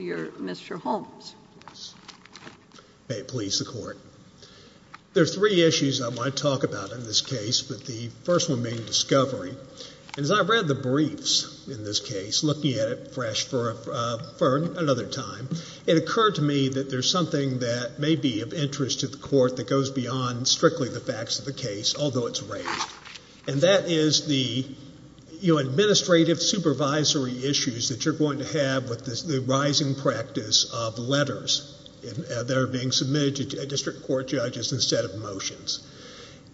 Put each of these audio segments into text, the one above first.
your Mr. Holmes. May it please the court. There are three issues I want to talk about in this case, but the first one being discovery. And as I read the briefs in this case, looking at it fresh for another time, it occurred to me that there's something that may be of interest to the court that goes beyond strictly the facts of the case, although it's rare. And that is the, you know, the rising practice of letters that are being submitted to district court judges instead of motions.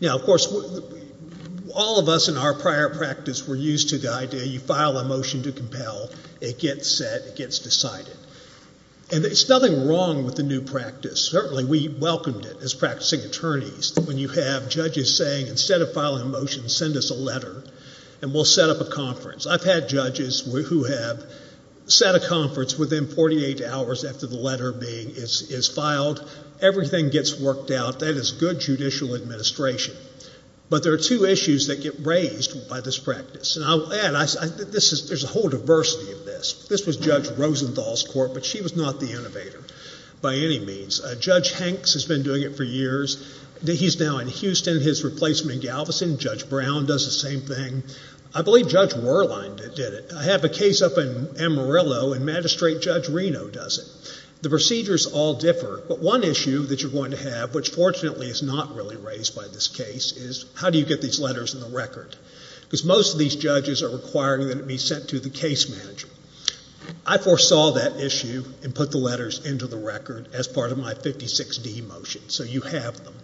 Now of course, all of us in our prior practice were used to the idea you file a motion to compel, it gets set, it gets decided. And there's nothing wrong with the new practice. Certainly we welcomed it as practicing attorneys when you have judges saying instead of filing a motion, send us a letter and we'll set up a conference. I've had judges who have set a conference within 48 hours after the letter is filed. Everything gets worked out. That is good judicial administration. But there are two issues that get raised by this practice. And I'll add, there's a whole diversity of this. This was Judge Rosenthal's court, but she was not the innovator by any means. Judge Hanks has been doing it for years. He's now in Houston. His replacement, Galveston, Judge Brown, does the same thing. I believe Judge Werlein did it. I have a great judge, Reno, does it. The procedures all differ. But one issue that you're going to have, which fortunately is not really raised by this case, is how do you get these letters in the record? Because most of these judges are requiring that it be sent to the case manager. I foresaw that issue and put the letters into the record as part of my 56D motion. So you have them.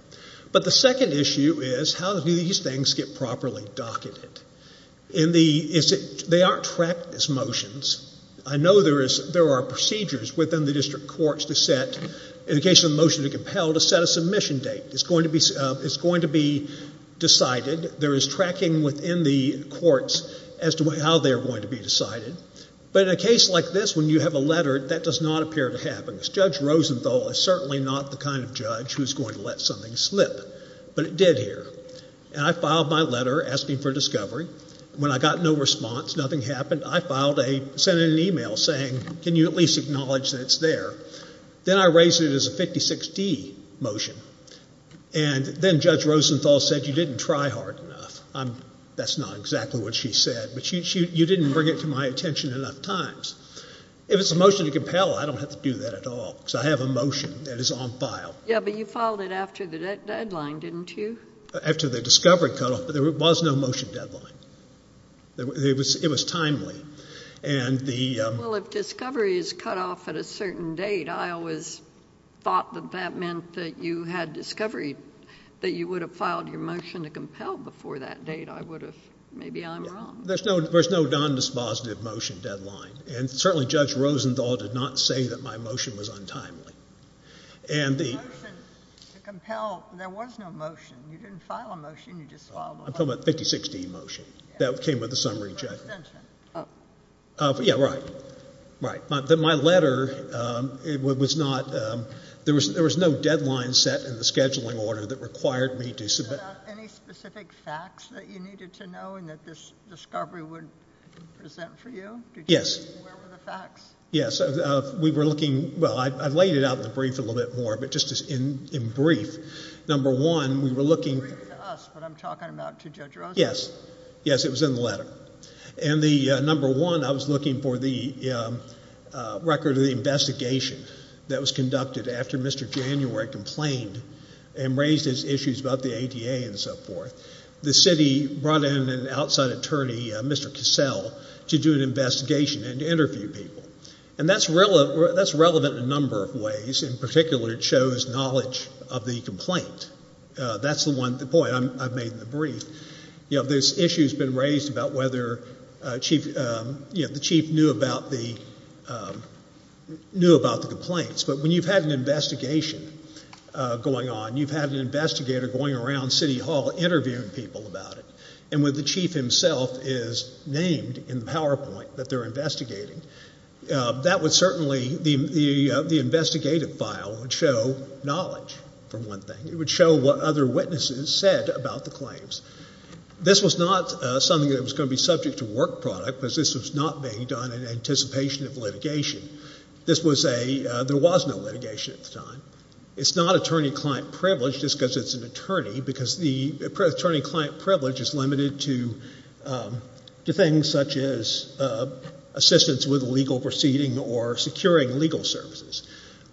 But the second issue is how do these things get properly docketed? They aren't tracked as motions. I know there are procedures within the district courts to set, in the case of a motion to compel, to set a submission date. It's going to be decided. There is tracking within the courts as to how they're going to be decided. But in a case like this, when you have a letter, that does not appear to happen. Judge Rosenthal is certainly not the kind of judge who's going to let something slip. But it did here. And I filed my letter asking for discovery. When I got no response, nothing happened, I filed a, sent in an email saying, can you at least acknowledge that it's there? Then I raised it as a 56D motion. And then Judge Rosenthal said you didn't try hard enough. That's not exactly what she said. But you didn't bring it to my attention enough times. If it's a motion to compel, I don't have to do that at all. So I have a motion that is on file. Yeah, but you filed it after the deadline, didn't you? After the discovery cutoff. There was no motion deadline. It was timely. Well, if discovery is cut off at a certain date, I always thought that that meant that you had discovery, that you would have filed your motion to compel before that date. I would have, maybe I'm wrong. There's no non-dispositive motion deadline. And certainly Judge Rosenthal did not say that my motion was untimely. And the motion to compel, there was no motion. You didn't file a motion, you just filed a motion. I'm talking about a 56D motion that came with the summary judgment. Oh. Yeah, right. Right. My letter, it was not, there was no deadline set in the scheduling order that required me to submit. Any specific facts that you needed to know and that this discovery would present for you? Yes. Where were the facts? Yes, we were looking, well, I laid it out in the brief a little bit more, but just in brief, number one, we were looking. Yes, yes, it was in the letter. And the number one, I was looking for the record of the investigation that was conducted after Mr. January complained and raised his issues about the ADA and so forth. The city brought in an outside attorney, Mr. Cassell, to do an investigation and interview people. And that's relevant in a number of ways. In terms of the complaint, that's the one, the point I've made in the brief. You know, this issue's been raised about whether the chief knew about the complaints. But when you've had an investigation going on, you've had an investigator going around City Hall interviewing people about it. And when the chief himself is named in the PowerPoint that they're investigating, that would certainly, the investigative file would show knowledge, for one thing. It would show what other witnesses said about the claims. This was not something that was going to be subject to work product, because this was not being done in anticipation of litigation. There was no litigation at the time. It's not attorney-client privilege, just because it's an attorney, because the attorney- client privilege is limited to things such as assistance with legal proceeding or securing legal services.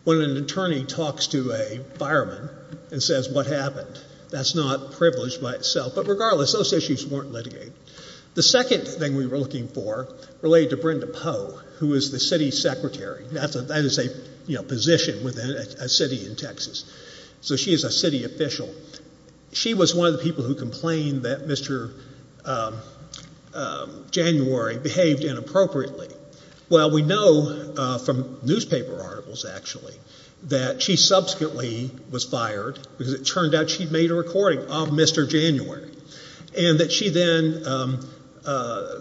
When an attorney talks to a fireman and says, what happened? That's not privilege by itself. But regardless, those issues weren't litigated. The second thing we were looking for related to Brenda Poe, who is the city secretary. That is a position within a city in Texas. So she is a city official. She was one of the people who complained that Mr. January behaved inappropriately. Well, we know from newspaper articles, actually, that she subsequently was fired, because it turned out she'd made a recording of Mr. January. And that she then,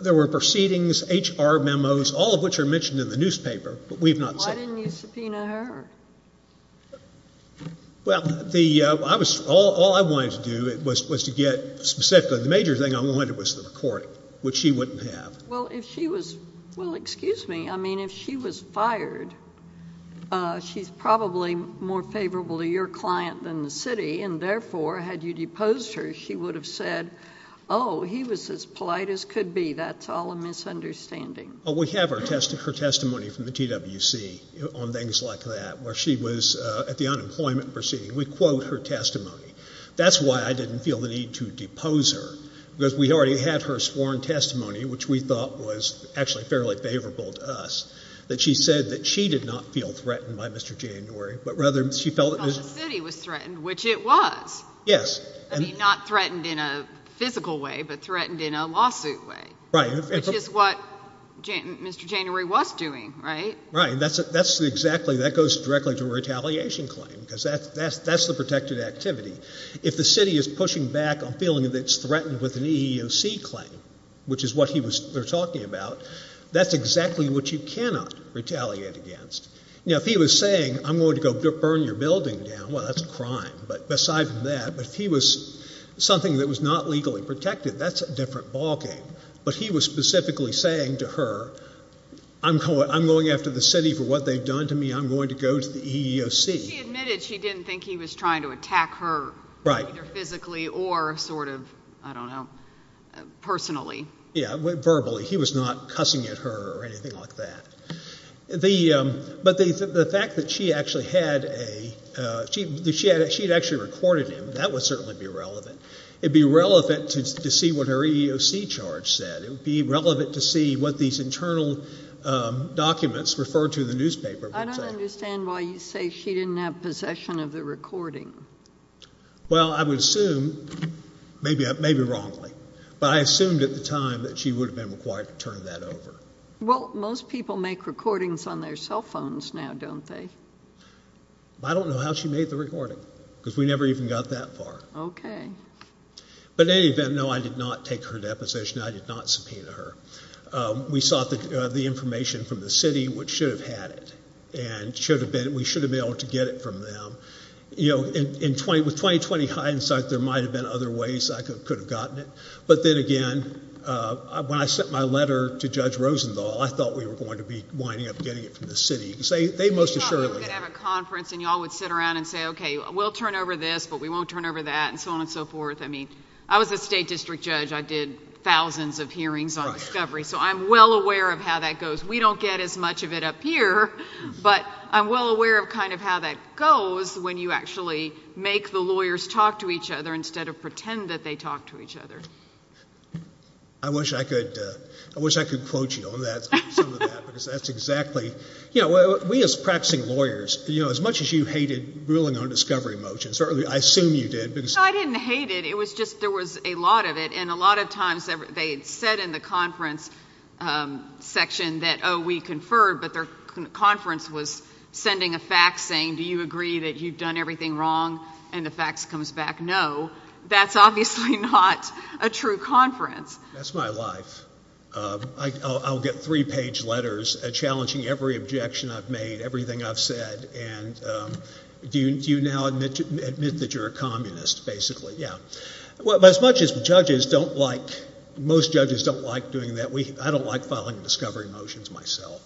there were proceedings, HR memos, all of which are mentioned in the newspaper, but we've not seen them. Why didn't you subpoena her? Well, all I wanted to do was to get, specifically, the major thing I wanted was the recording, which she wouldn't have. Well, if she was, well excuse me, I mean, if she was fired, she's probably more favorable to your client than the city, and therefore, had you deposed her, she would have said, oh, he was as polite as could be. That's all a misunderstanding. Well, we have her testimony from the TWC on things like that, where she was at the unemployment proceeding. We quote her testimony. That's why I didn't feel the need to depose her, because we already had her sworn testimony, which we thought was actually fairly favorable to us, that she said that she did not feel threatened by Mr. January, but rather she felt that the city was threatened, which it was. Yes. I mean, not threatened in a physical way, but threatened in a lawsuit way. Right. Which is what Mr. January was doing, right? Right. That's exactly, that goes directly to a retaliation claim, because that's the protected activity. If the city is pushing back on feeling that it's threatened with an EEOC claim, which is what they're talking about, that's exactly what you cannot retaliate against. Now, if he was saying, I'm going to go burn your building down, well, that's a crime, but aside from that, but if he was something that was not protected, that's a different ballgame. But he was specifically saying to her, I'm going after the city for what they've done to me, I'm going to go to the EEOC. She admitted she didn't think he was trying to attack her, either physically or sort of, I don't know, personally. Yeah, verbally. He was not cussing at her or anything like that. But the fact that she actually had a, she had actually recorded him, that would certainly be relevant. It would be relevant to see what her EEOC charge said. It would be relevant to see what these internal documents referred to in the newspaper. I don't understand why you say she didn't have possession of the recording. Well, I would assume, maybe wrongly, but I assumed at the time that she would have been required to turn that over. Well, most people make recordings on their cell phones now, don't they? I don't know how she made the recording, because we never even got that far. But in any event, no, I did not take her deposition, I did not subpoena her. We sought the information from the city, which should have had it, and we should have been able to get it from them. You know, with 20-20 hindsight, there might have been other ways I could have gotten it. But then again, when I sent my letter to Judge Rosenthal, I thought we were going to be winding up getting it from the city. Because they most assuredly had it. I thought we were going to have a conference, and you all would sit around and say, okay, we'll turn over this, but we won't turn over that, and so on and so forth. I mean, I was a state district judge. I did thousands of hearings on discovery, so I'm well aware of how that goes. We don't get as much of it up here, but I'm well aware of kind of how that goes when you actually make the lawyers talk to each other instead of pretend that they talk to each other. I wish I could quote you on that, some of that, because that's exactly... We as practicing lawyers, as much as you hated ruling on discovery motions, or I assume you did. I didn't hate it. It was just there was a lot of it, and a lot of times they had said in the conference section that, oh, we conferred, but their conference was sending a fax saying, do you agree that you've done everything wrong, and the fax comes back no. That's obviously not a true conference. That's my life. I'll get three-page letters challenging every objection I've made, everything I've said, and do you now admit that you're a communist, basically? Yeah. But as much as judges don't like, most judges don't like doing that, I don't like filing discovery motions myself.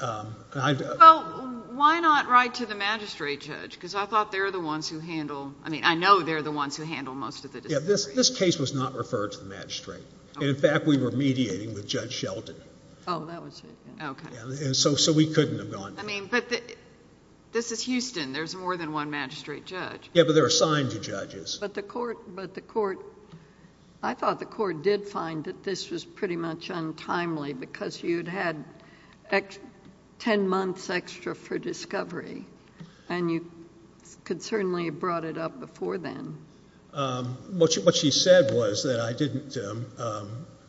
Well, why not write to the magistrate judge? Because I thought they're the ones who handle... I mean, I know they're the ones who handle most of the discovery. Yeah, this case was not referred to the magistrate. In fact, we were mediating with Judge Shelton. Oh, that was it. Okay. So we couldn't have gone... I mean, but this is Houston. There's more than one magistrate judge. Yeah, but they're assigned to judges. But the court, I thought the court did find that this was pretty much untimely because you'd had ten months extra for discovery, and you could certainly have brought it up before then. What she said was that I didn't...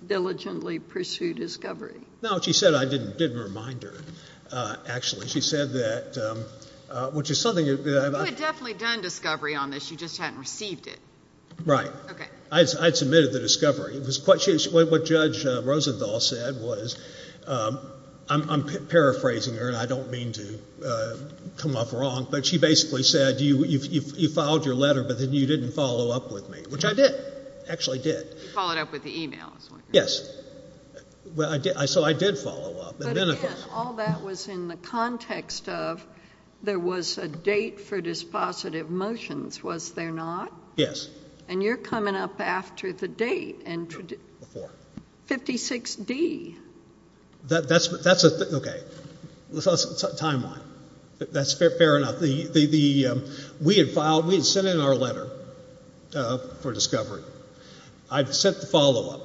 Diligently pursue discovery. No, she said I didn't remind her, actually. She said that, which is something... You had definitely done discovery on this. You just hadn't received it. Right. Okay. I had submitted the discovery. What Judge Rosenthal said was, I'm paraphrasing her, and I don't mean to come off wrong, but she basically said you filed your letter, but then you didn't follow up with me, which I did. I actually did. You followed up with the e-mail. Yes. So I did follow up. But again, all that was in the context of there was a date for dispositive motions, was there not? Yes. And you're coming up after the date. Before. 56D. That's a... Okay. That's a timeline. That's fair enough. We had filed... We had sent in our letter for discovery. I had sent the follow-up.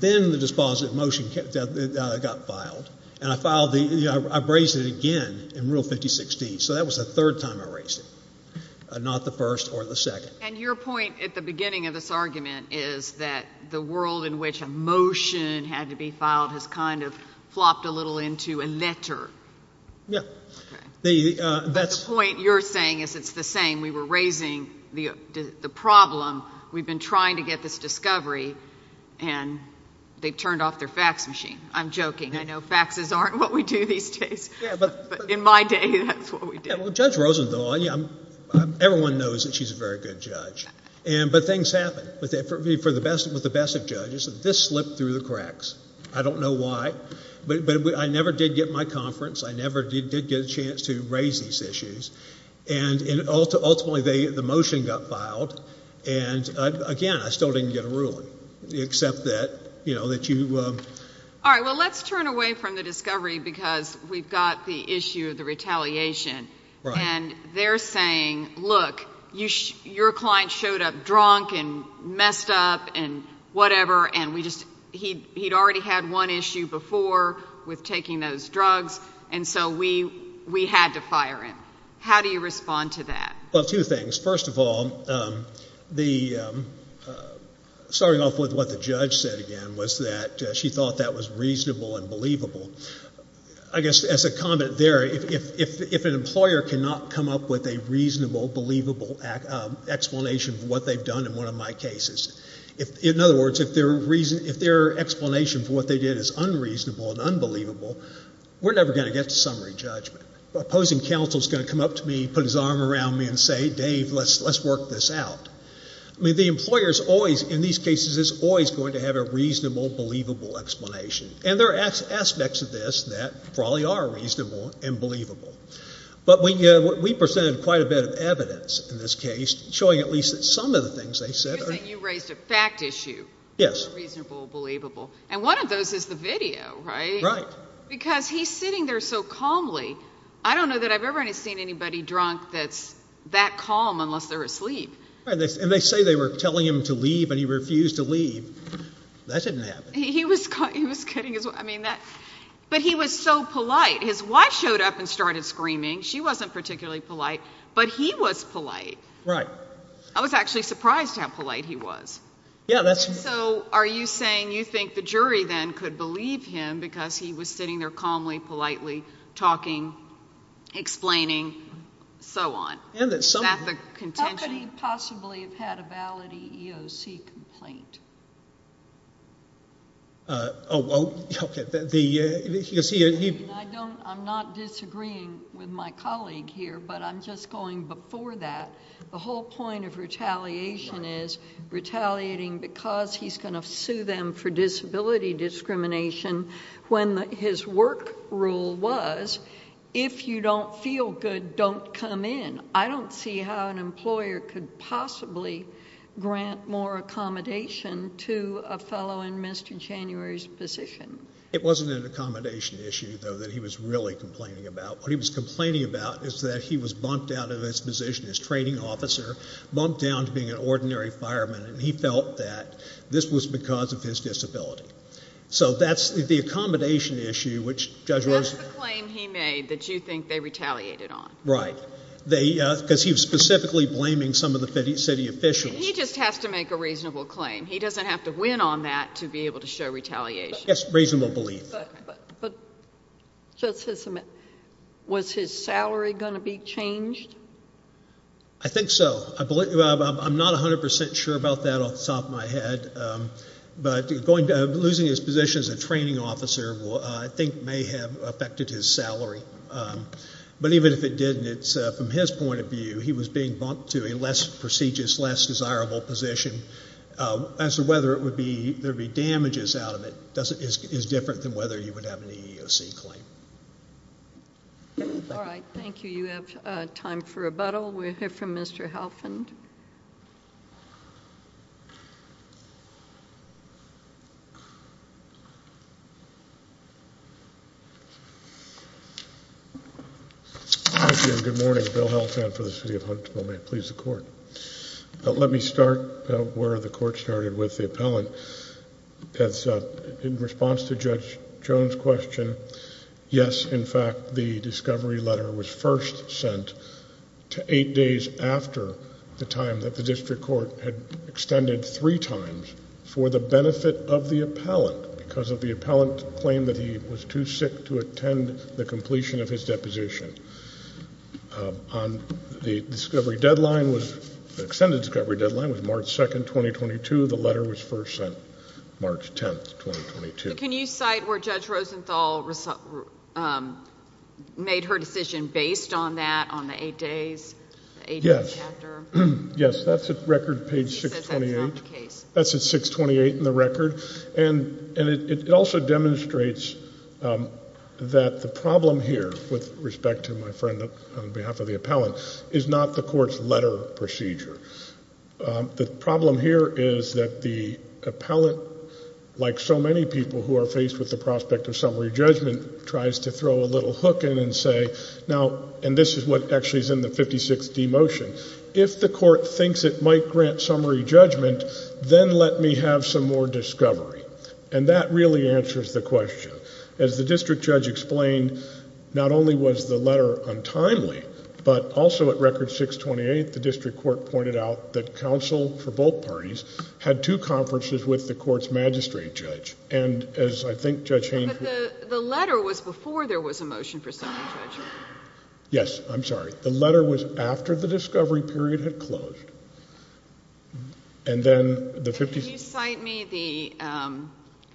Then the dispositive motion got filed, and I filed the... I raised it again in Rule 5016, so that was the third time I raised it, not the first or the second. And your point at the beginning of this argument is that the world in which a motion had to be filed has kind of flopped a little into a letter. Yes. Okay. But the point you're saying is it's the same. We were raising the problem. We've been trying to get this discovery, and they've turned off their fax machine. I'm joking. I know faxes aren't what we do these days. But in my day, that's what we did. Well, Judge Rosenthal, everyone knows that she's a very good judge. But things happen. For the best of judges, this slipped through the cracks. I don't know why. But I never did get my conference. I never did get a chance to raise these issues. And ultimately, the motion got filed, and again, I still didn't get a ruling, except that you... All right. Well, let's turn away from the discovery because we've got the issue of the retaliation. Right. And they're saying, look, your client showed up drunk and messed up and whatever, and we just... he'd already had one issue before with taking those drugs. And so, we had to fire him. How do you respond to that? Well, two things. First of all, starting off with what the judge said again was that she thought that was reasonable and believable. I guess as a comment there, if an employer cannot come up with a reasonable, believable explanation for what they've done in one of my cases... In other words, if their explanation for what they did is unreasonable and unbelievable, we're never going to get to summary judgment. The opposing counsel is going to come up to me, put his arm around me and say, Dave, let's work this out. I mean, the employer is always, in these cases, is always going to have a reasonable, believable explanation. And there are aspects of this that probably are reasonable and believable. But we presented quite a bit of evidence in this case, showing at least that some of the things they said... You raised a fact issue. Yes. Reasonable, believable. And one of those is the video, right? Right. Because he's sitting there so calmly. I don't know that I've ever seen anybody drunk that's that calm unless they're asleep. And they say they were telling him to leave and he refused to leave. That didn't happen. He was kidding as well. I mean that... But he was so polite. His wife showed up and started screaming. She wasn't particularly polite, but he was polite. Right. I was actually surprised at how polite he was. Yeah, that's... So, are you saying you think the jury then could believe him because he was sitting there calmly, politely, talking, explaining, so on? And that some... Is that the contention? How could he possibly have had a valid EEOC complaint? Oh, okay. The... I'm not disagreeing with my colleague here, but I'm just going before that. The whole point of retaliation is retaliating because he's going to sue them for disability discrimination when his work rule was, if you don't feel good, don't come in. I don't see how an employer could possibly grant more accommodation to a fellow in Mr. January's position. It wasn't an accommodation issue, though, that he was really complaining about. What he was complaining about is that he was bumped out of his position as training officer, bumped down to being an ordinary fireman, and he felt that this was because of his disability. So, that's the accommodation issue, which Judge Rose... That's the claim he made that you think they retaliated on. Right. Because he was specifically blaming some of the city officials. He just has to make a reasonable claim. He doesn't have to win on that to be able to show retaliation. Yes, reasonable belief. But, Judge Hisseman, was his salary going to be changed? I think so. I'm not 100 percent sure about that off the top of my head, but losing his position as a training officer, I think, may have affected his salary. But, even if it didn't, from his point of view, he was being bumped to a less prestigious, less desirable position. As to whether there would be damages out of it is different than whether you would have an EEOC claim. All right. Thank you. You have time for rebuttal. We'll hear from Mr. Halfond. Thank you, and good morning. Bill Halfond for the City of Huntsville. May it please the Court. Let me start where the Court started with the appellant. In response to Judge Jones' question, yes, in fact, the discovery letter was first sent to eight days after the time that the district court had extended three times for the benefit of the appellant. Because of the appellant's claim that he was too sick to attend the completion of his deposition. The extended discovery deadline was March 2, 2022. The letter was first sent March 10, 2022. Can you cite where Judge Rosenthal made her decision based on that, on the eight days after? Yes. Yes, that's at record page 628. She says that's not the case. That's at 628 in the record. And it also demonstrates that the problem here, with respect to my friend on behalf of the appellant, is not the Court's letter procedure. The problem here is that the appellant, like so many people who are faced with the prospect of summary judgment, tries to throw a little hook in and say, now, and this is what actually is in the 56D motion. If the Court thinks it might grant summary judgment, then let me have some more discovery. And that really answers the question. As the district judge explained, not only was the letter untimely, but also at record 628, the district court pointed out that counsel for both parties had two conferences with the Court's magistrate judge. And as I think Judge Hainfield— But the letter was before there was a motion for summary judgment. Yes, I'm sorry. The letter was after the discovery period had closed. And then the 56— Can you cite me the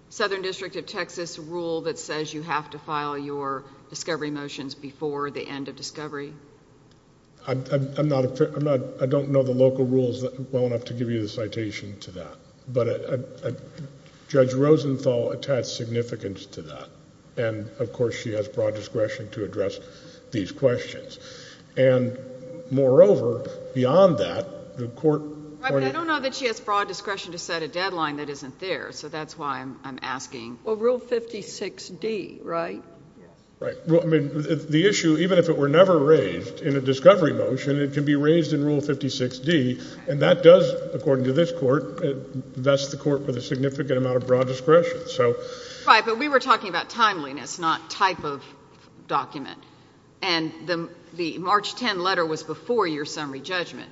Southern District of Texas rule that says you have to file your discovery motions before the end of discovery? I'm not—I don't know the local rules well enough to give you the citation to that. But Judge Rosenthal attached significance to that. And, of course, she has broad discretion to address these questions. And, moreover, beyond that, the Court pointed— I don't know that she has broad discretion to set a deadline that isn't there, so that's why I'm asking. Well, Rule 56D, right? Right. The issue, even if it were never raised in a discovery motion, it can be raised in Rule 56D, and that does, according to this Court, vest the Court with a significant amount of broad discretion. Right. But we were talking about timeliness, not type of document. And the March 10 letter was before your summary judgment,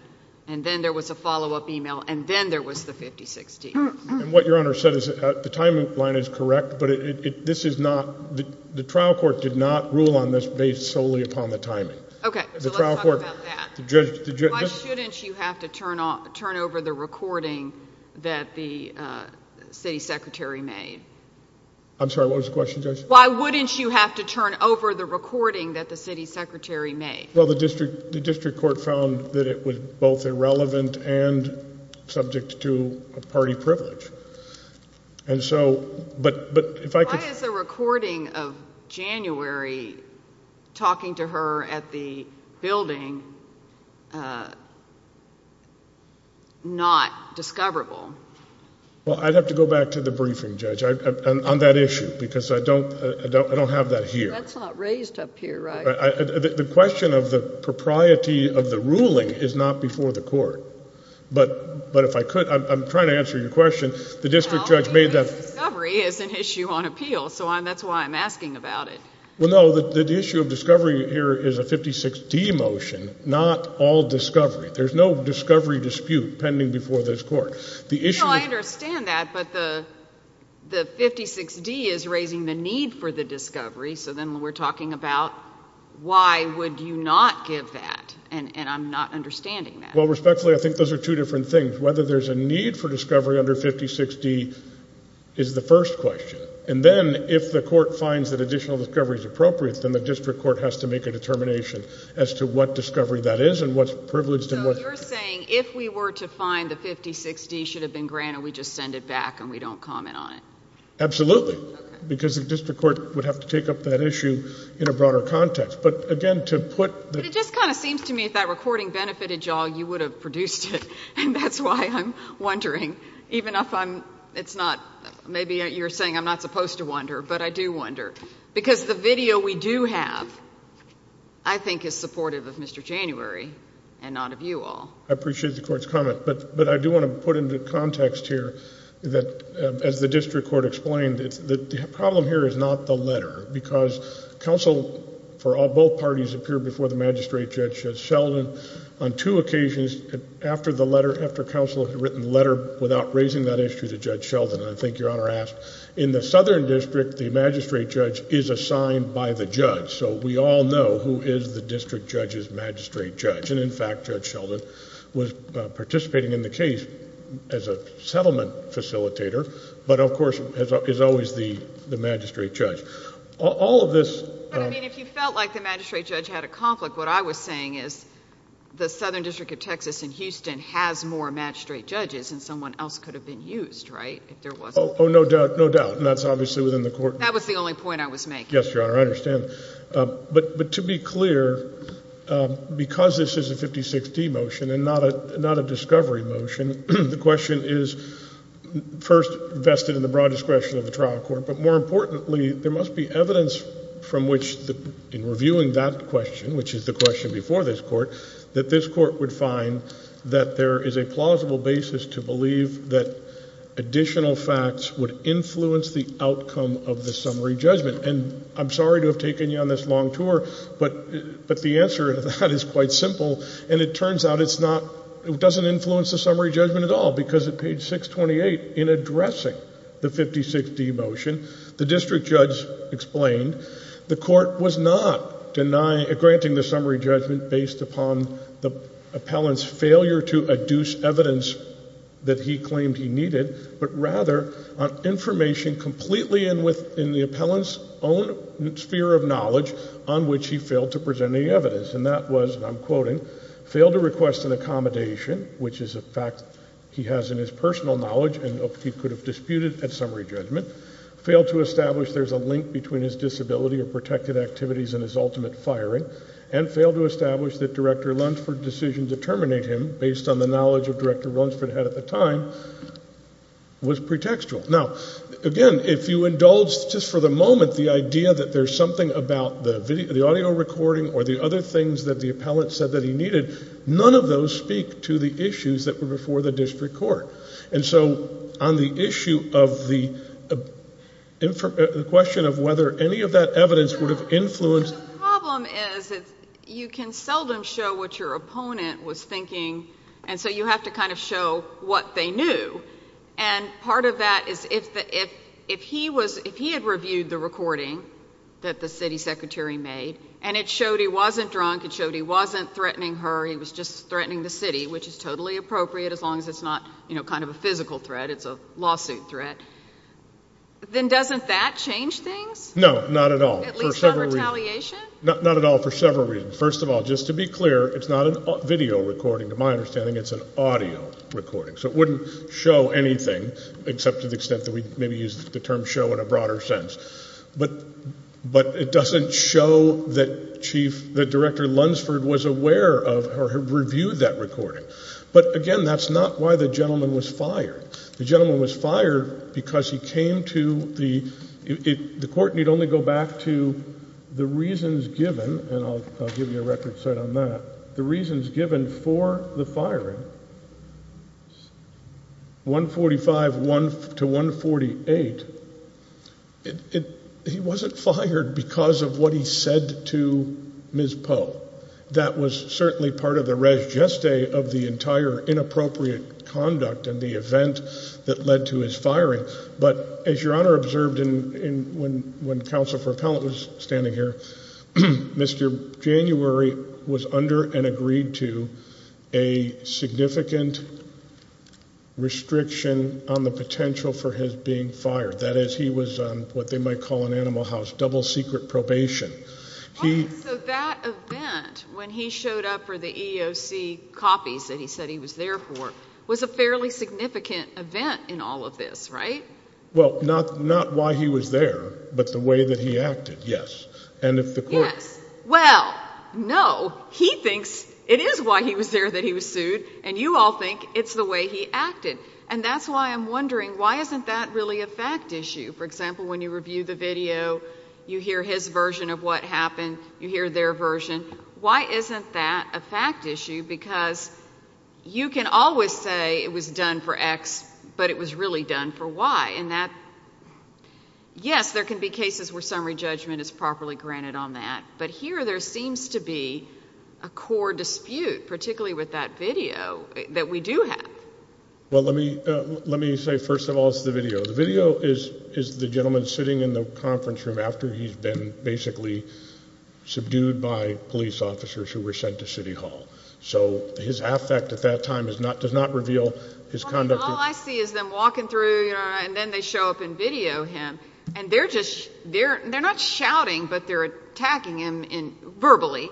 and then there was a follow-up email, and then there was the 56D. And what Your Honor said is the timeline is correct, but this is not—the trial court did not rule on this based solely upon the timing. Okay. So let's talk about that. Why shouldn't you have to turn over the recording that the city secretary made? I'm sorry, what was the question, Judge? Why wouldn't you have to turn over the recording that the city secretary made? Well, the district court found that it was both irrelevant and subject to a party privilege. And so—but if I could— Talking to her at the building, not discoverable. Well, I'd have to go back to the briefing, Judge, on that issue, because I don't have that here. That's not raised up here, right? The question of the propriety of the ruling is not before the court. But if I could, I'm trying to answer your question. The district judge made that— Well, discovery is an issue on appeal, so that's why I'm asking about it. Well, no, the issue of discovery here is a 56D motion, not all discovery. There's no discovery dispute pending before this court. No, I understand that, but the 56D is raising the need for the discovery, so then we're talking about why would you not give that, and I'm not understanding that. Well, respectfully, I think those are two different things. Whether there's a need for discovery under 56D is the first question. And then if the court finds that additional discovery is appropriate, then the district court has to make a determination as to what discovery that is and what's privileged and what's— So you're saying if we were to find the 56D should have been granted, we just send it back and we don't comment on it? Absolutely. Okay. Because the district court would have to take up that issue in a broader context. But, again, to put— But it just kind of seems to me if that recording benefited you all, you would have produced it, and that's why I'm wondering, even if I'm—it's not— maybe you're saying I'm not supposed to wonder, but I do wonder. Because the video we do have I think is supportive of Mr. January and not of you all. I appreciate the court's comment, but I do want to put into context here that, as the district court explained, the problem here is not the letter because counsel for both parties appeared before the magistrate, Judge Sheldon, on two occasions after the letter, after counsel had written the letter, without raising that issue to Judge Sheldon. I think Your Honor asked, in the Southern District, the magistrate judge is assigned by the judge, so we all know who is the district judge's magistrate judge. And, in fact, Judge Sheldon was participating in the case as a settlement facilitator but, of course, is always the magistrate judge. All of this— But, I mean, if you felt like the magistrate judge had a conflict, what I was saying is the Southern District of Texas in Houston has more magistrate judges than someone else could have been used, right, if there wasn't— Oh, no doubt, no doubt, and that's obviously within the court— That was the only point I was making. Yes, Your Honor, I understand. But to be clear, because this is a 56D motion and not a discovery motion, the question is first vested in the broad discretion of the trial court, but, more importantly, there must be evidence from which, in reviewing that question, which is the question before this court, that this court would find that there is a plausible basis to believe that additional facts would influence the outcome of the summary judgment. And I'm sorry to have taken you on this long tour, but the answer to that is quite simple, and it turns out it's not—it doesn't influence the summary judgment at all because at page 628, in addressing the 56D motion, the district judge explained the court was not denying— not on the appellant's failure to adduce evidence that he claimed he needed, but rather on information completely in the appellant's own sphere of knowledge on which he failed to present any evidence, and that was, and I'm quoting, failed to request an accommodation, which is a fact he has in his personal knowledge and he could have disputed at summary judgment, failed to establish there's a link between his disability or protected activities and his ultimate firing, and failed to establish that Director Lunsford's decision to terminate him, based on the knowledge that Director Lunsford had at the time, was pretextual. Now, again, if you indulge just for the moment the idea that there's something about the audio recording or the other things that the appellant said that he needed, none of those speak to the issues that were before the district court. And so on the issue of the question of whether any of that evidence would have influenced. The problem is you can seldom show what your opponent was thinking, and so you have to kind of show what they knew. And part of that is if he had reviewed the recording that the city secretary made and it showed he wasn't drunk, it showed he wasn't threatening her, he was just threatening the city, which is totally appropriate as long as it's not kind of a physical threat, it's a lawsuit threat, then doesn't that change things? No, not at all. At least not retaliation? Not at all for several reasons. First of all, just to be clear, it's not a video recording. To my understanding, it's an audio recording. So it wouldn't show anything except to the extent that we maybe use the term show in a broader sense. But it doesn't show that Director Lunsford was aware of or reviewed that recording. But, again, that's not why the gentleman was fired. The gentleman was fired because he came to the court, and you'd only go back to the reasons given, and I'll give you a record set on that, the reasons given for the firing. 145 to 148, he wasn't fired because of what he said to Ms. Poe. That was certainly part of the res geste of the entire inappropriate conduct and the event that led to his firing. But as Your Honor observed when Counsel for Appellant was standing here, Mr. January was under and agreed to a significant restriction on the potential for his being fired. That is, he was on what they might call an animal house, double secret probation. So that event when he showed up for the EEOC copies that he said he was there for was a fairly significant event in all of this, right? Well, not why he was there, but the way that he acted, yes. Yes. Well, no, he thinks it is why he was there that he was sued, and you all think it's the way he acted. And that's why I'm wondering, why isn't that really a fact issue? For example, when you review the video, you hear his version of what happened, you hear their version. Why isn't that a fact issue? Because you can always say it was done for X, but it was really done for Y. And that, yes, there can be cases where summary judgment is properly granted on that. But here there seems to be a core dispute, particularly with that video that we do have. Well, let me say, first of all, it's the video. The video is the gentleman sitting in the conference room after he's been basically subdued by police officers who were sent to City Hall. So his affect at that time does not reveal his conduct. All I see is them walking through, and then they show up and video him, and they're not shouting, but they're attacking him verbally,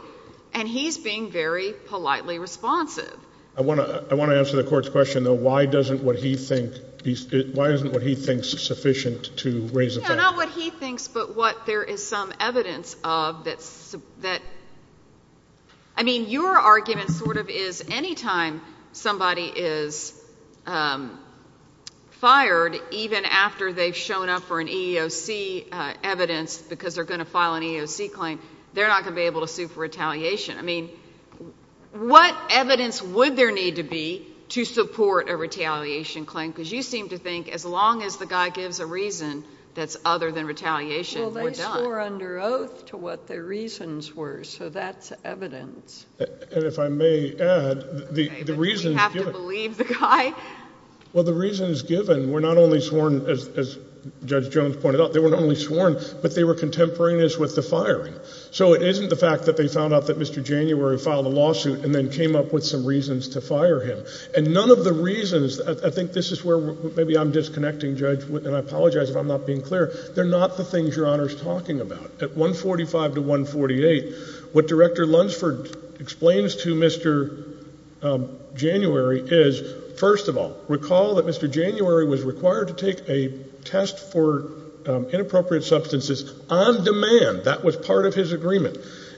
and he's being very politely responsive. I want to answer the court's question, though. Why isn't what he thinks sufficient to raise a fact? Not what he thinks, but what there is some evidence of. I mean, your argument sort of is anytime somebody is fired, even after they've shown up for an EEOC evidence because they're going to file an EEOC claim, they're not going to be able to sue for retaliation. I mean, what evidence would there need to be to support a retaliation claim? Because you seem to think as long as the guy gives a reason that's other than retaliation, we're done. Well, they swore under oath to what their reasons were, so that's evidence. And if I may add, the reasons given— Okay, but do you have to believe the guy? Well, the reasons given were not only sworn, as Judge Jones pointed out, they were not only sworn, but they were contemporaneous with the firing. So it isn't the fact that they found out that Mr. January filed a lawsuit and then came up with some reasons to fire him. And none of the reasons—I think this is where maybe I'm disconnecting, Judge, and I apologize if I'm not being clear—they're not the things Your Honor is talking about. At 145 to 148, what Director Lunsford explains to Mr. January is, first of all, recall that Mr. January was required to take a test for inappropriate substances on demand. That was part of his agreement.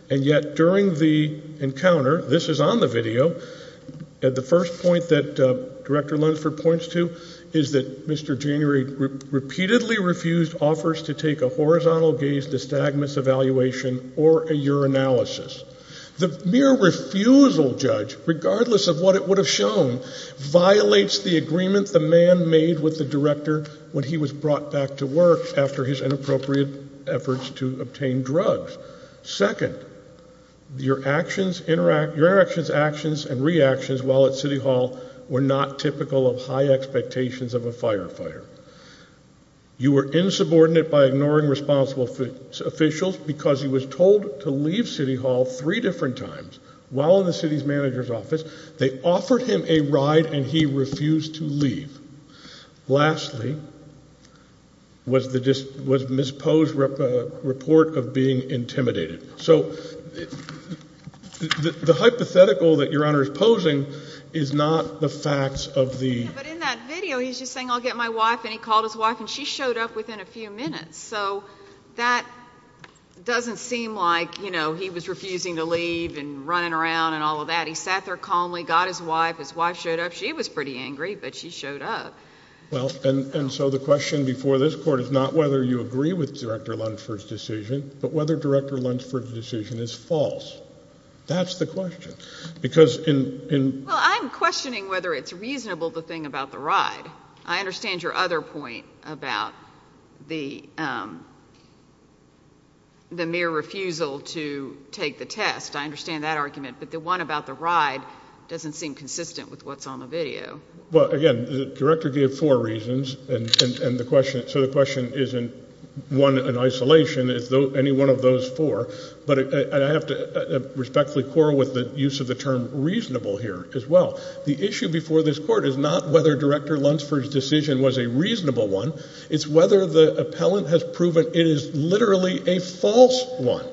And yet during the encounter—this is on the video— the first point that Director Lunsford points to is that Mr. January repeatedly refused offers to take a horizontal gaze dystagmus evaluation or a urinalysis. The mere refusal, Judge, regardless of what it would have shown, violates the agreement the man made with the director when he was brought back to work after his inappropriate efforts to obtain drugs. Second, your interactions, actions, and reactions while at City Hall were not typical of high expectations of a firefighter. You were insubordinate by ignoring responsible officials because he was told to leave City Hall three different times while in the city's manager's office. They offered him a ride and he refused to leave. Lastly was Ms. Poe's report of being intimidated. So the hypothetical that Your Honor is posing is not the facts of the— Yeah, but in that video he's just saying, I'll get my wife, and he called his wife, and she showed up within a few minutes. So that doesn't seem like, you know, he was refusing to leave and running around and all of that. He sat there calmly, got his wife, his wife showed up. She was pretty angry, but she showed up. Well, and so the question before this Court is not whether you agree with Director Lunsford's decision, but whether Director Lunsford's decision is false. That's the question. Because in— Well, I'm questioning whether it's reasonable, the thing about the ride. I understand your other point about the mere refusal to take the test. I understand that argument, but the one about the ride doesn't seem consistent with what's on the video. Well, again, the Director gave four reasons, and the question—so the question isn't one in isolation. It's any one of those four. But I have to respectfully quarrel with the use of the term reasonable here as well. The issue before this Court is not whether Director Lunsford's decision was a reasonable one. It's whether the appellant has proven it is literally a false one,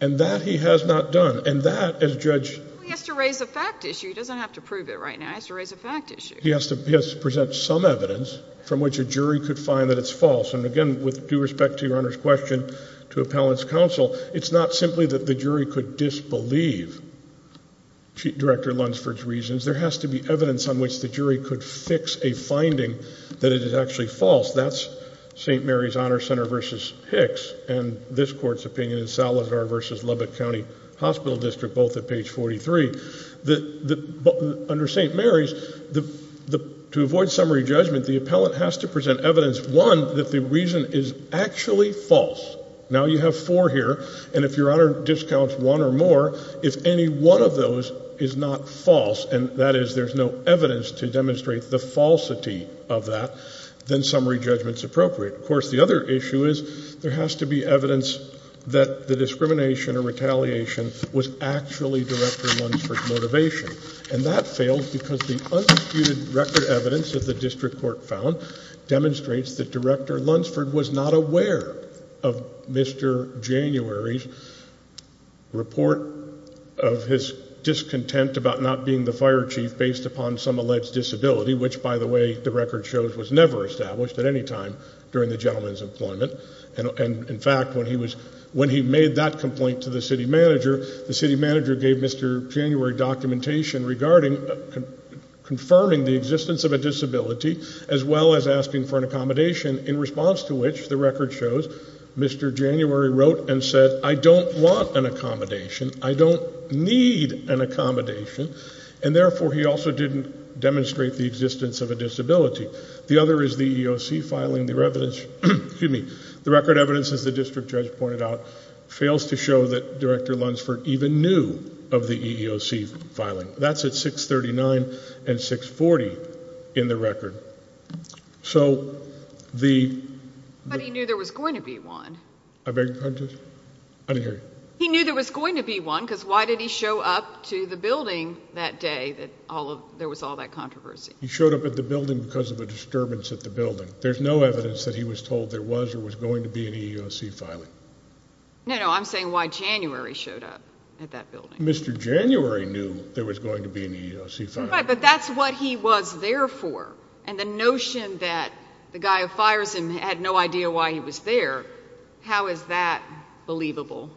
and that he has not done. And that, as judge— Well, he has to raise a fact issue. He doesn't have to prove it right now. He has to raise a fact issue. He has to present some evidence from which a jury could find that it's false. And, again, with due respect to Your Honor's question to appellant's counsel, it's not simply that the jury could disbelieve Director Lunsford's reasons. There has to be evidence on which the jury could fix a finding that it is actually false. That's St. Mary's Honor Center v. Hicks, and this Court's opinion in Salazar v. Lubbock County Hospital District, both at page 43. Under St. Mary's, to avoid summary judgment, the appellant has to present evidence, one, that the reason is actually false. Now you have four here. And if Your Honor discounts one or more, if any one of those is not false, and that is there's no evidence to demonstrate the falsity of that, then summary judgment is appropriate. Of course, the other issue is there has to be evidence that the discrimination or retaliation was actually Director Lunsford's motivation. And that failed because the undisputed record evidence that the district court found demonstrates that Director Lunsford was not aware of Mr. January's report of his discontent about not being the fire chief based upon some alleged disability, which, by the way, the record shows was never established at any time during the gentleman's employment. And, in fact, when he made that complaint to the city manager, the city manager gave Mr. January documentation regarding confirming the existence of a disability as well as asking for an accommodation, in response to which, the record shows, Mr. January wrote and said, I don't want an accommodation. I don't need an accommodation. And, therefore, he also didn't demonstrate the existence of a disability. The other is the EEOC filing. The record evidence, as the district judge pointed out, fails to show that Director Lunsford even knew of the EEOC filing. That's at 639 and 640 in the record. But he knew there was going to be one. I beg your pardon, Judge? I didn't hear you. He knew there was going to be one because why did he show up to the building that day that there was all that controversy? He showed up at the building because of a disturbance at the building. There's no evidence that he was told there was or was going to be an EEOC filing. No, no, I'm saying why January showed up at that building. Mr. January knew there was going to be an EEOC filing. Right, but that's what he was there for. And the notion that the guy who fires him had no idea why he was there, how is that believable?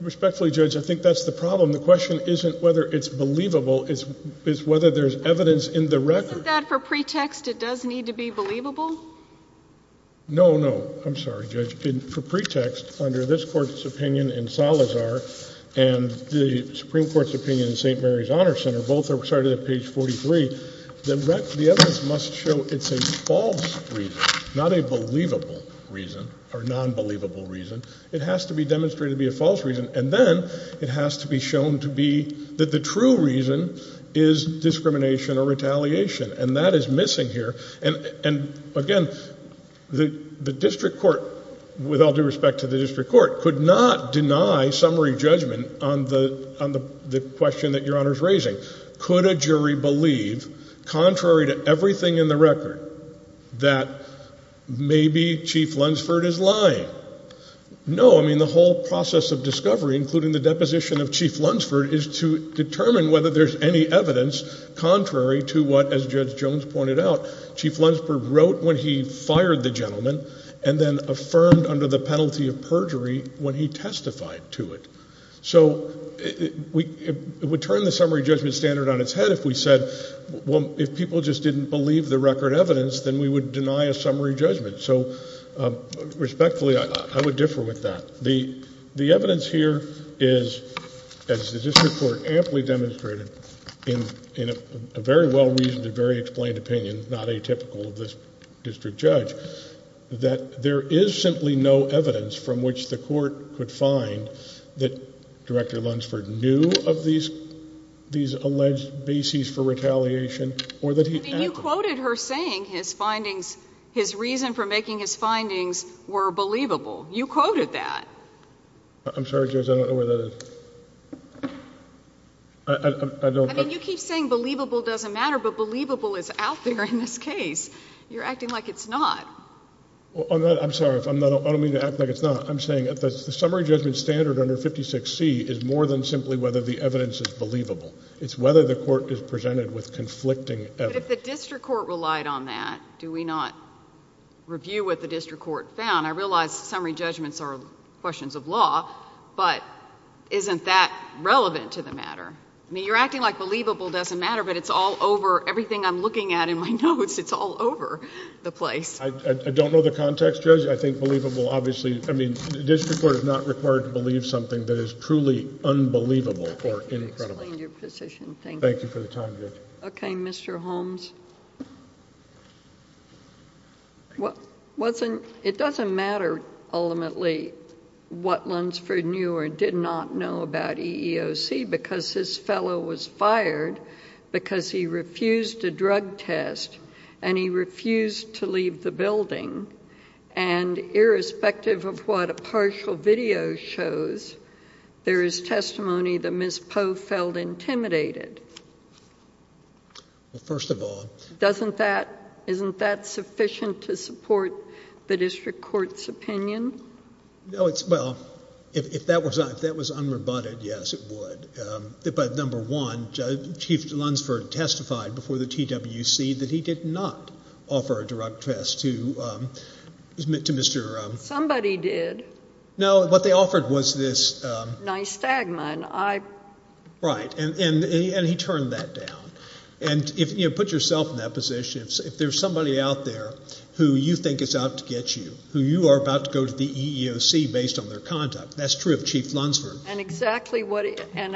Respectfully, Judge, I think that's the problem. The question isn't whether it's believable. It's whether there's evidence in the record. Isn't that for pretext it does need to be believable? No, no, I'm sorry, Judge. For pretext, under this Court's opinion in Salazar and the Supreme Court's opinion in St. Mary's Honor Center, both are cited at page 43, the evidence must show it's a false reason, not a believable reason or non-believable reason. It has to be demonstrated to be a false reason, and then it has to be shown to be that the true reason is discrimination or retaliation, and that is missing here. And, again, the district court, with all due respect to the district court, could not deny summary judgment on the question that Your Honor is raising. Could a jury believe, contrary to everything in the record, that maybe Chief Lunsford is lying? No, I mean the whole process of discovery, including the deposition of Chief Lunsford, is to determine whether there's any evidence contrary to what, as Judge Jones pointed out, Chief Lunsford wrote when he fired the gentleman and then affirmed under the penalty of perjury when he testified to it. So it would turn the summary judgment standard on its head if we said, well, if people just didn't believe the record evidence, then we would deny a summary judgment. So, respectfully, I would differ with that. The evidence here is, as the district court amply demonstrated, in a very well-reasoned and very explained opinion, not atypical of this district judge, that there is simply no evidence from which the court could find that Director Lunsford knew of these alleged bases for retaliation or that he acted. I mean you quoted her saying his findings, his reason for making his findings were believable. You quoted that. I'm sorry, Judge, I don't know where that is. I mean you keep saying believable doesn't matter, but believable is out there in this case. You're acting like it's not. I'm sorry. I don't mean to act like it's not. I'm saying the summary judgment standard under 56C is more than simply whether the evidence is believable. It's whether the court is presented with conflicting evidence. But if the district court relied on that, do we not review what the district court found? I realize summary judgments are questions of law, but isn't that relevant to the matter? I mean you're acting like believable doesn't matter, but it's all over. Everything I'm looking at in my notes, it's all over the place. I don't know the context, Judge. I think believable, obviously. I mean the district court is not required to believe something that is truly unbelievable or incredible. Explain your position. Thank you. Thank you for the time, Judge. Okay, Mr. Holmes. It doesn't matter ultimately what Lunsford knew or did not know about EEOC because this fellow was fired because he refused a drug test and he refused to leave the building, and irrespective of what a partial video shows, there is testimony that Ms. Poe felt intimidated. Well, first of all. Isn't that sufficient to support the district court's opinion? Well, if that was unrebutted, yes, it would. But number one, Chief Lunsford testified before the TWC that he did not offer a drug test to Mr. Somebody did. No, what they offered was this. Nystagma. Right, and he turned that down. And put yourself in that position. If there's somebody out there who you think is out to get you, who you are about to go to the EEOC based on their conduct, that's true of Chief Lunsford. And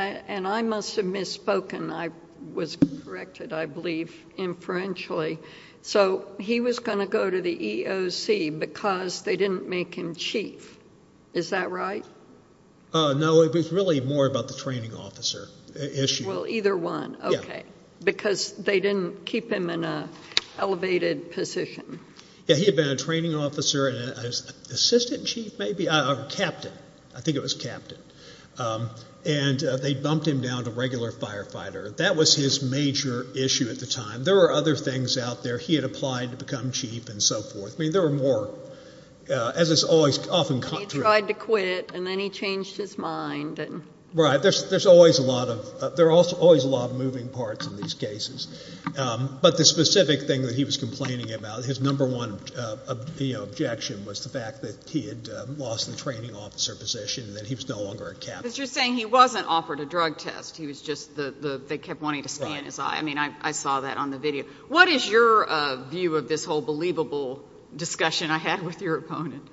I must have misspoken. I was corrected, I believe, inferentially. So he was going to go to the EEOC because they didn't make him chief. Is that right? No, it was really more about the training officer issue. Well, either one. Okay. Because they didn't keep him in an elevated position. Yeah, he had been a training officer and an assistant chief maybe, or captain. I think it was captain. And they bumped him down to regular firefighter. That was his major issue at the time. There were other things out there. He had applied to become chief and so forth. I mean, there were more, as has often come true. And then he tried to quit and then he changed his mind. Right. There's always a lot of moving parts in these cases. But the specific thing that he was complaining about, his number one objection, was the fact that he had lost the training officer position and that he was no longer a captain. But you're saying he wasn't offered a drug test. He was just, they kept wanting to scan his eye. I mean, I saw that on the video. What is your view of this whole believable discussion I had with your opponent?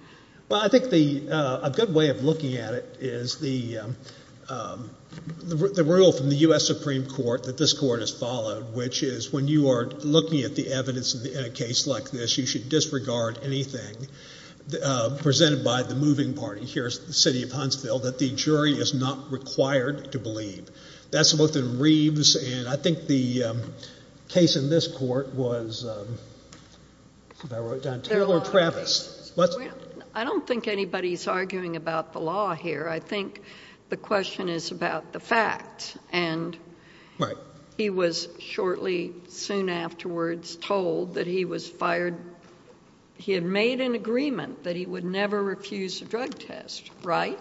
Well, I think a good way of looking at it is the rule from the U.S. Supreme Court that this court has followed, which is when you are looking at the evidence in a case like this, you should disregard anything presented by the moving party. Here's the city of Huntsville, that the jury is not required to believe. That's looked at in Reeves. And I think the case in this court was, if I wrote it down, Taylor Travis. I don't think anybody's arguing about the law here. I think the question is about the facts. And he was shortly, soon afterwards, told that he was fired. He had made an agreement that he would never refuse a drug test, right?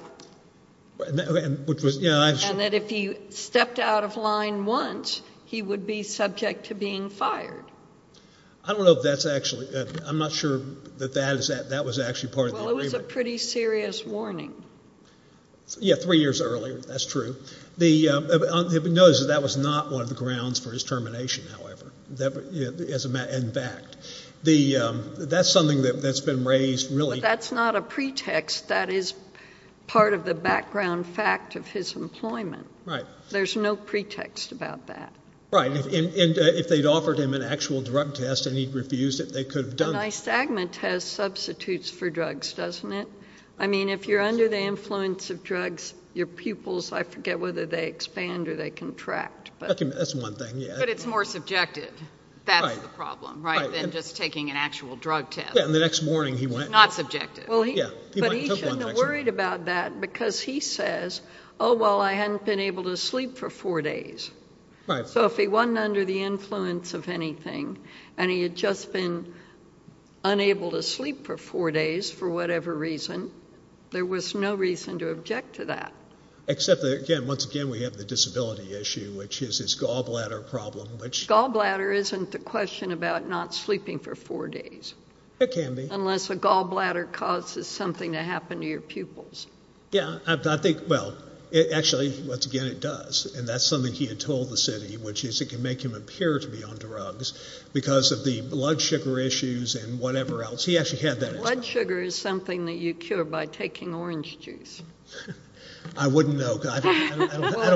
And that if he stepped out of line once, he would be subject to being fired. I don't know if that's actually, I'm not sure that that was actually part of the agreement. Well, it was a pretty serious warning. Yeah, three years earlier. That's true. Notice that that was not one of the grounds for his termination, however, in fact. That's something that's been raised really. But that's not a pretext. That is part of the background fact of his employment. Right. There's no pretext about that. Right. And if they'd offered him an actual drug test and he'd refused it, they could have done it. A nystagma test substitutes for drugs, doesn't it? I mean, if you're under the influence of drugs, your pupils, I forget whether they expand or they contract. That's one thing, yeah. But it's more subjective. That's the problem, right, than just taking an actual drug test. Yeah, and the next morning he went. Not subjective. Well, he shouldn't have worried about that because he says, oh, well, I hadn't been able to sleep for four days. Right. So if he wasn't under the influence of anything and he had just been unable to sleep for four days for whatever reason, there was no reason to object to that. Except that, again, once again we have the disability issue, which is his gallbladder problem. Gallbladder isn't the question about not sleeping for four days. It can be. Unless a gallbladder causes something to happen to your pupils. Yeah, I think, well, actually, once again it does, and that's something he had told the city, which is it can make him appear to be on drugs because of the blood sugar issues and whatever else. He actually had that. Blood sugar is something that you cure by taking orange juice. I wouldn't know. Well,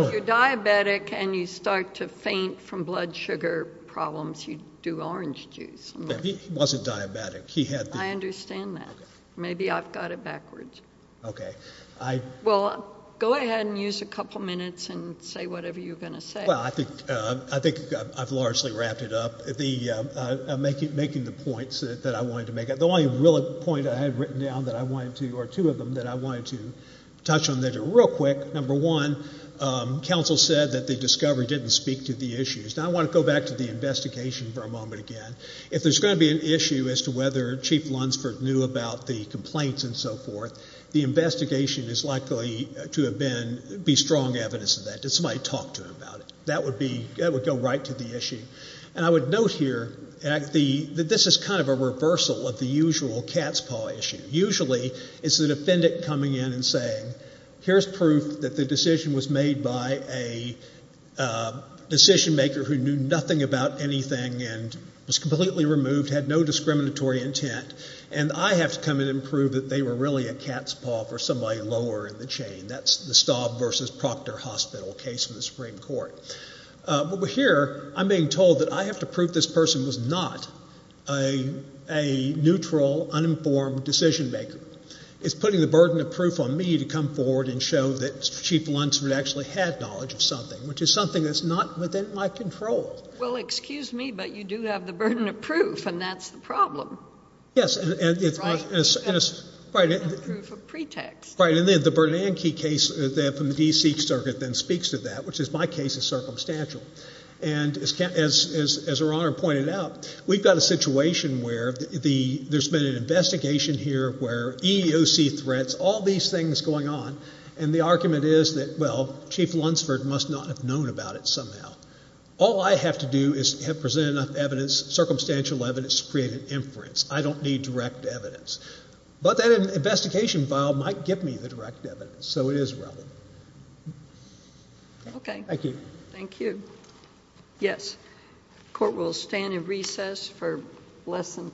if you're diabetic and you start to faint from blood sugar problems, you do orange juice. He wasn't diabetic. I understand that. Maybe I've got it backwards. Okay. Well, go ahead and use a couple minutes and say whatever you're going to say. Well, I think I've largely wrapped it up. Making the points that I wanted to make, the only real point I had written down that I wanted to, or two of them that I wanted to touch on real quick, number one, counsel said that the discovery didn't speak to the issues. Now I want to go back to the investigation for a moment again. If there's going to be an issue as to whether Chief Lunsford knew about the complaints and so forth, the investigation is likely to be strong evidence of that. Did somebody talk to him about it? That would go right to the issue. And I would note here that this is kind of a reversal of the usual cat's paw issue. Usually it's the defendant coming in and saying, here's proof that the decision was made by a decision maker who knew nothing about anything and was completely removed, had no discriminatory intent, and I have to come in and prove that they were really a cat's paw for somebody lower in the chain. That's the Staub versus Proctor Hospital case in the Supreme Court. But here I'm being told that I have to prove this person was not a neutral, uninformed decision maker. It's putting the burden of proof on me to come forward and show that Chief Lunsford actually had knowledge of something, which is something that's not within my control. Well, excuse me, but you do have the burden of proof, and that's the problem. Yes. Right. The burden of proof of pretext. Right. And then the Bernanke case from the D.C. Circuit then speaks to that, which is my case is circumstantial. And as Her Honor pointed out, we've got a situation where there's been an investigation here where EEOC threats, all these things going on, and the argument is that, well, Chief Lunsford must not have known about it somehow. All I have to do is present enough evidence, circumstantial evidence, to create an inference. I don't need direct evidence. But then an investigation file might give me the direct evidence. So it is relevant. Okay. Thank you. Thank you. Yes. The Court will stand in recess for less than 10 minutes.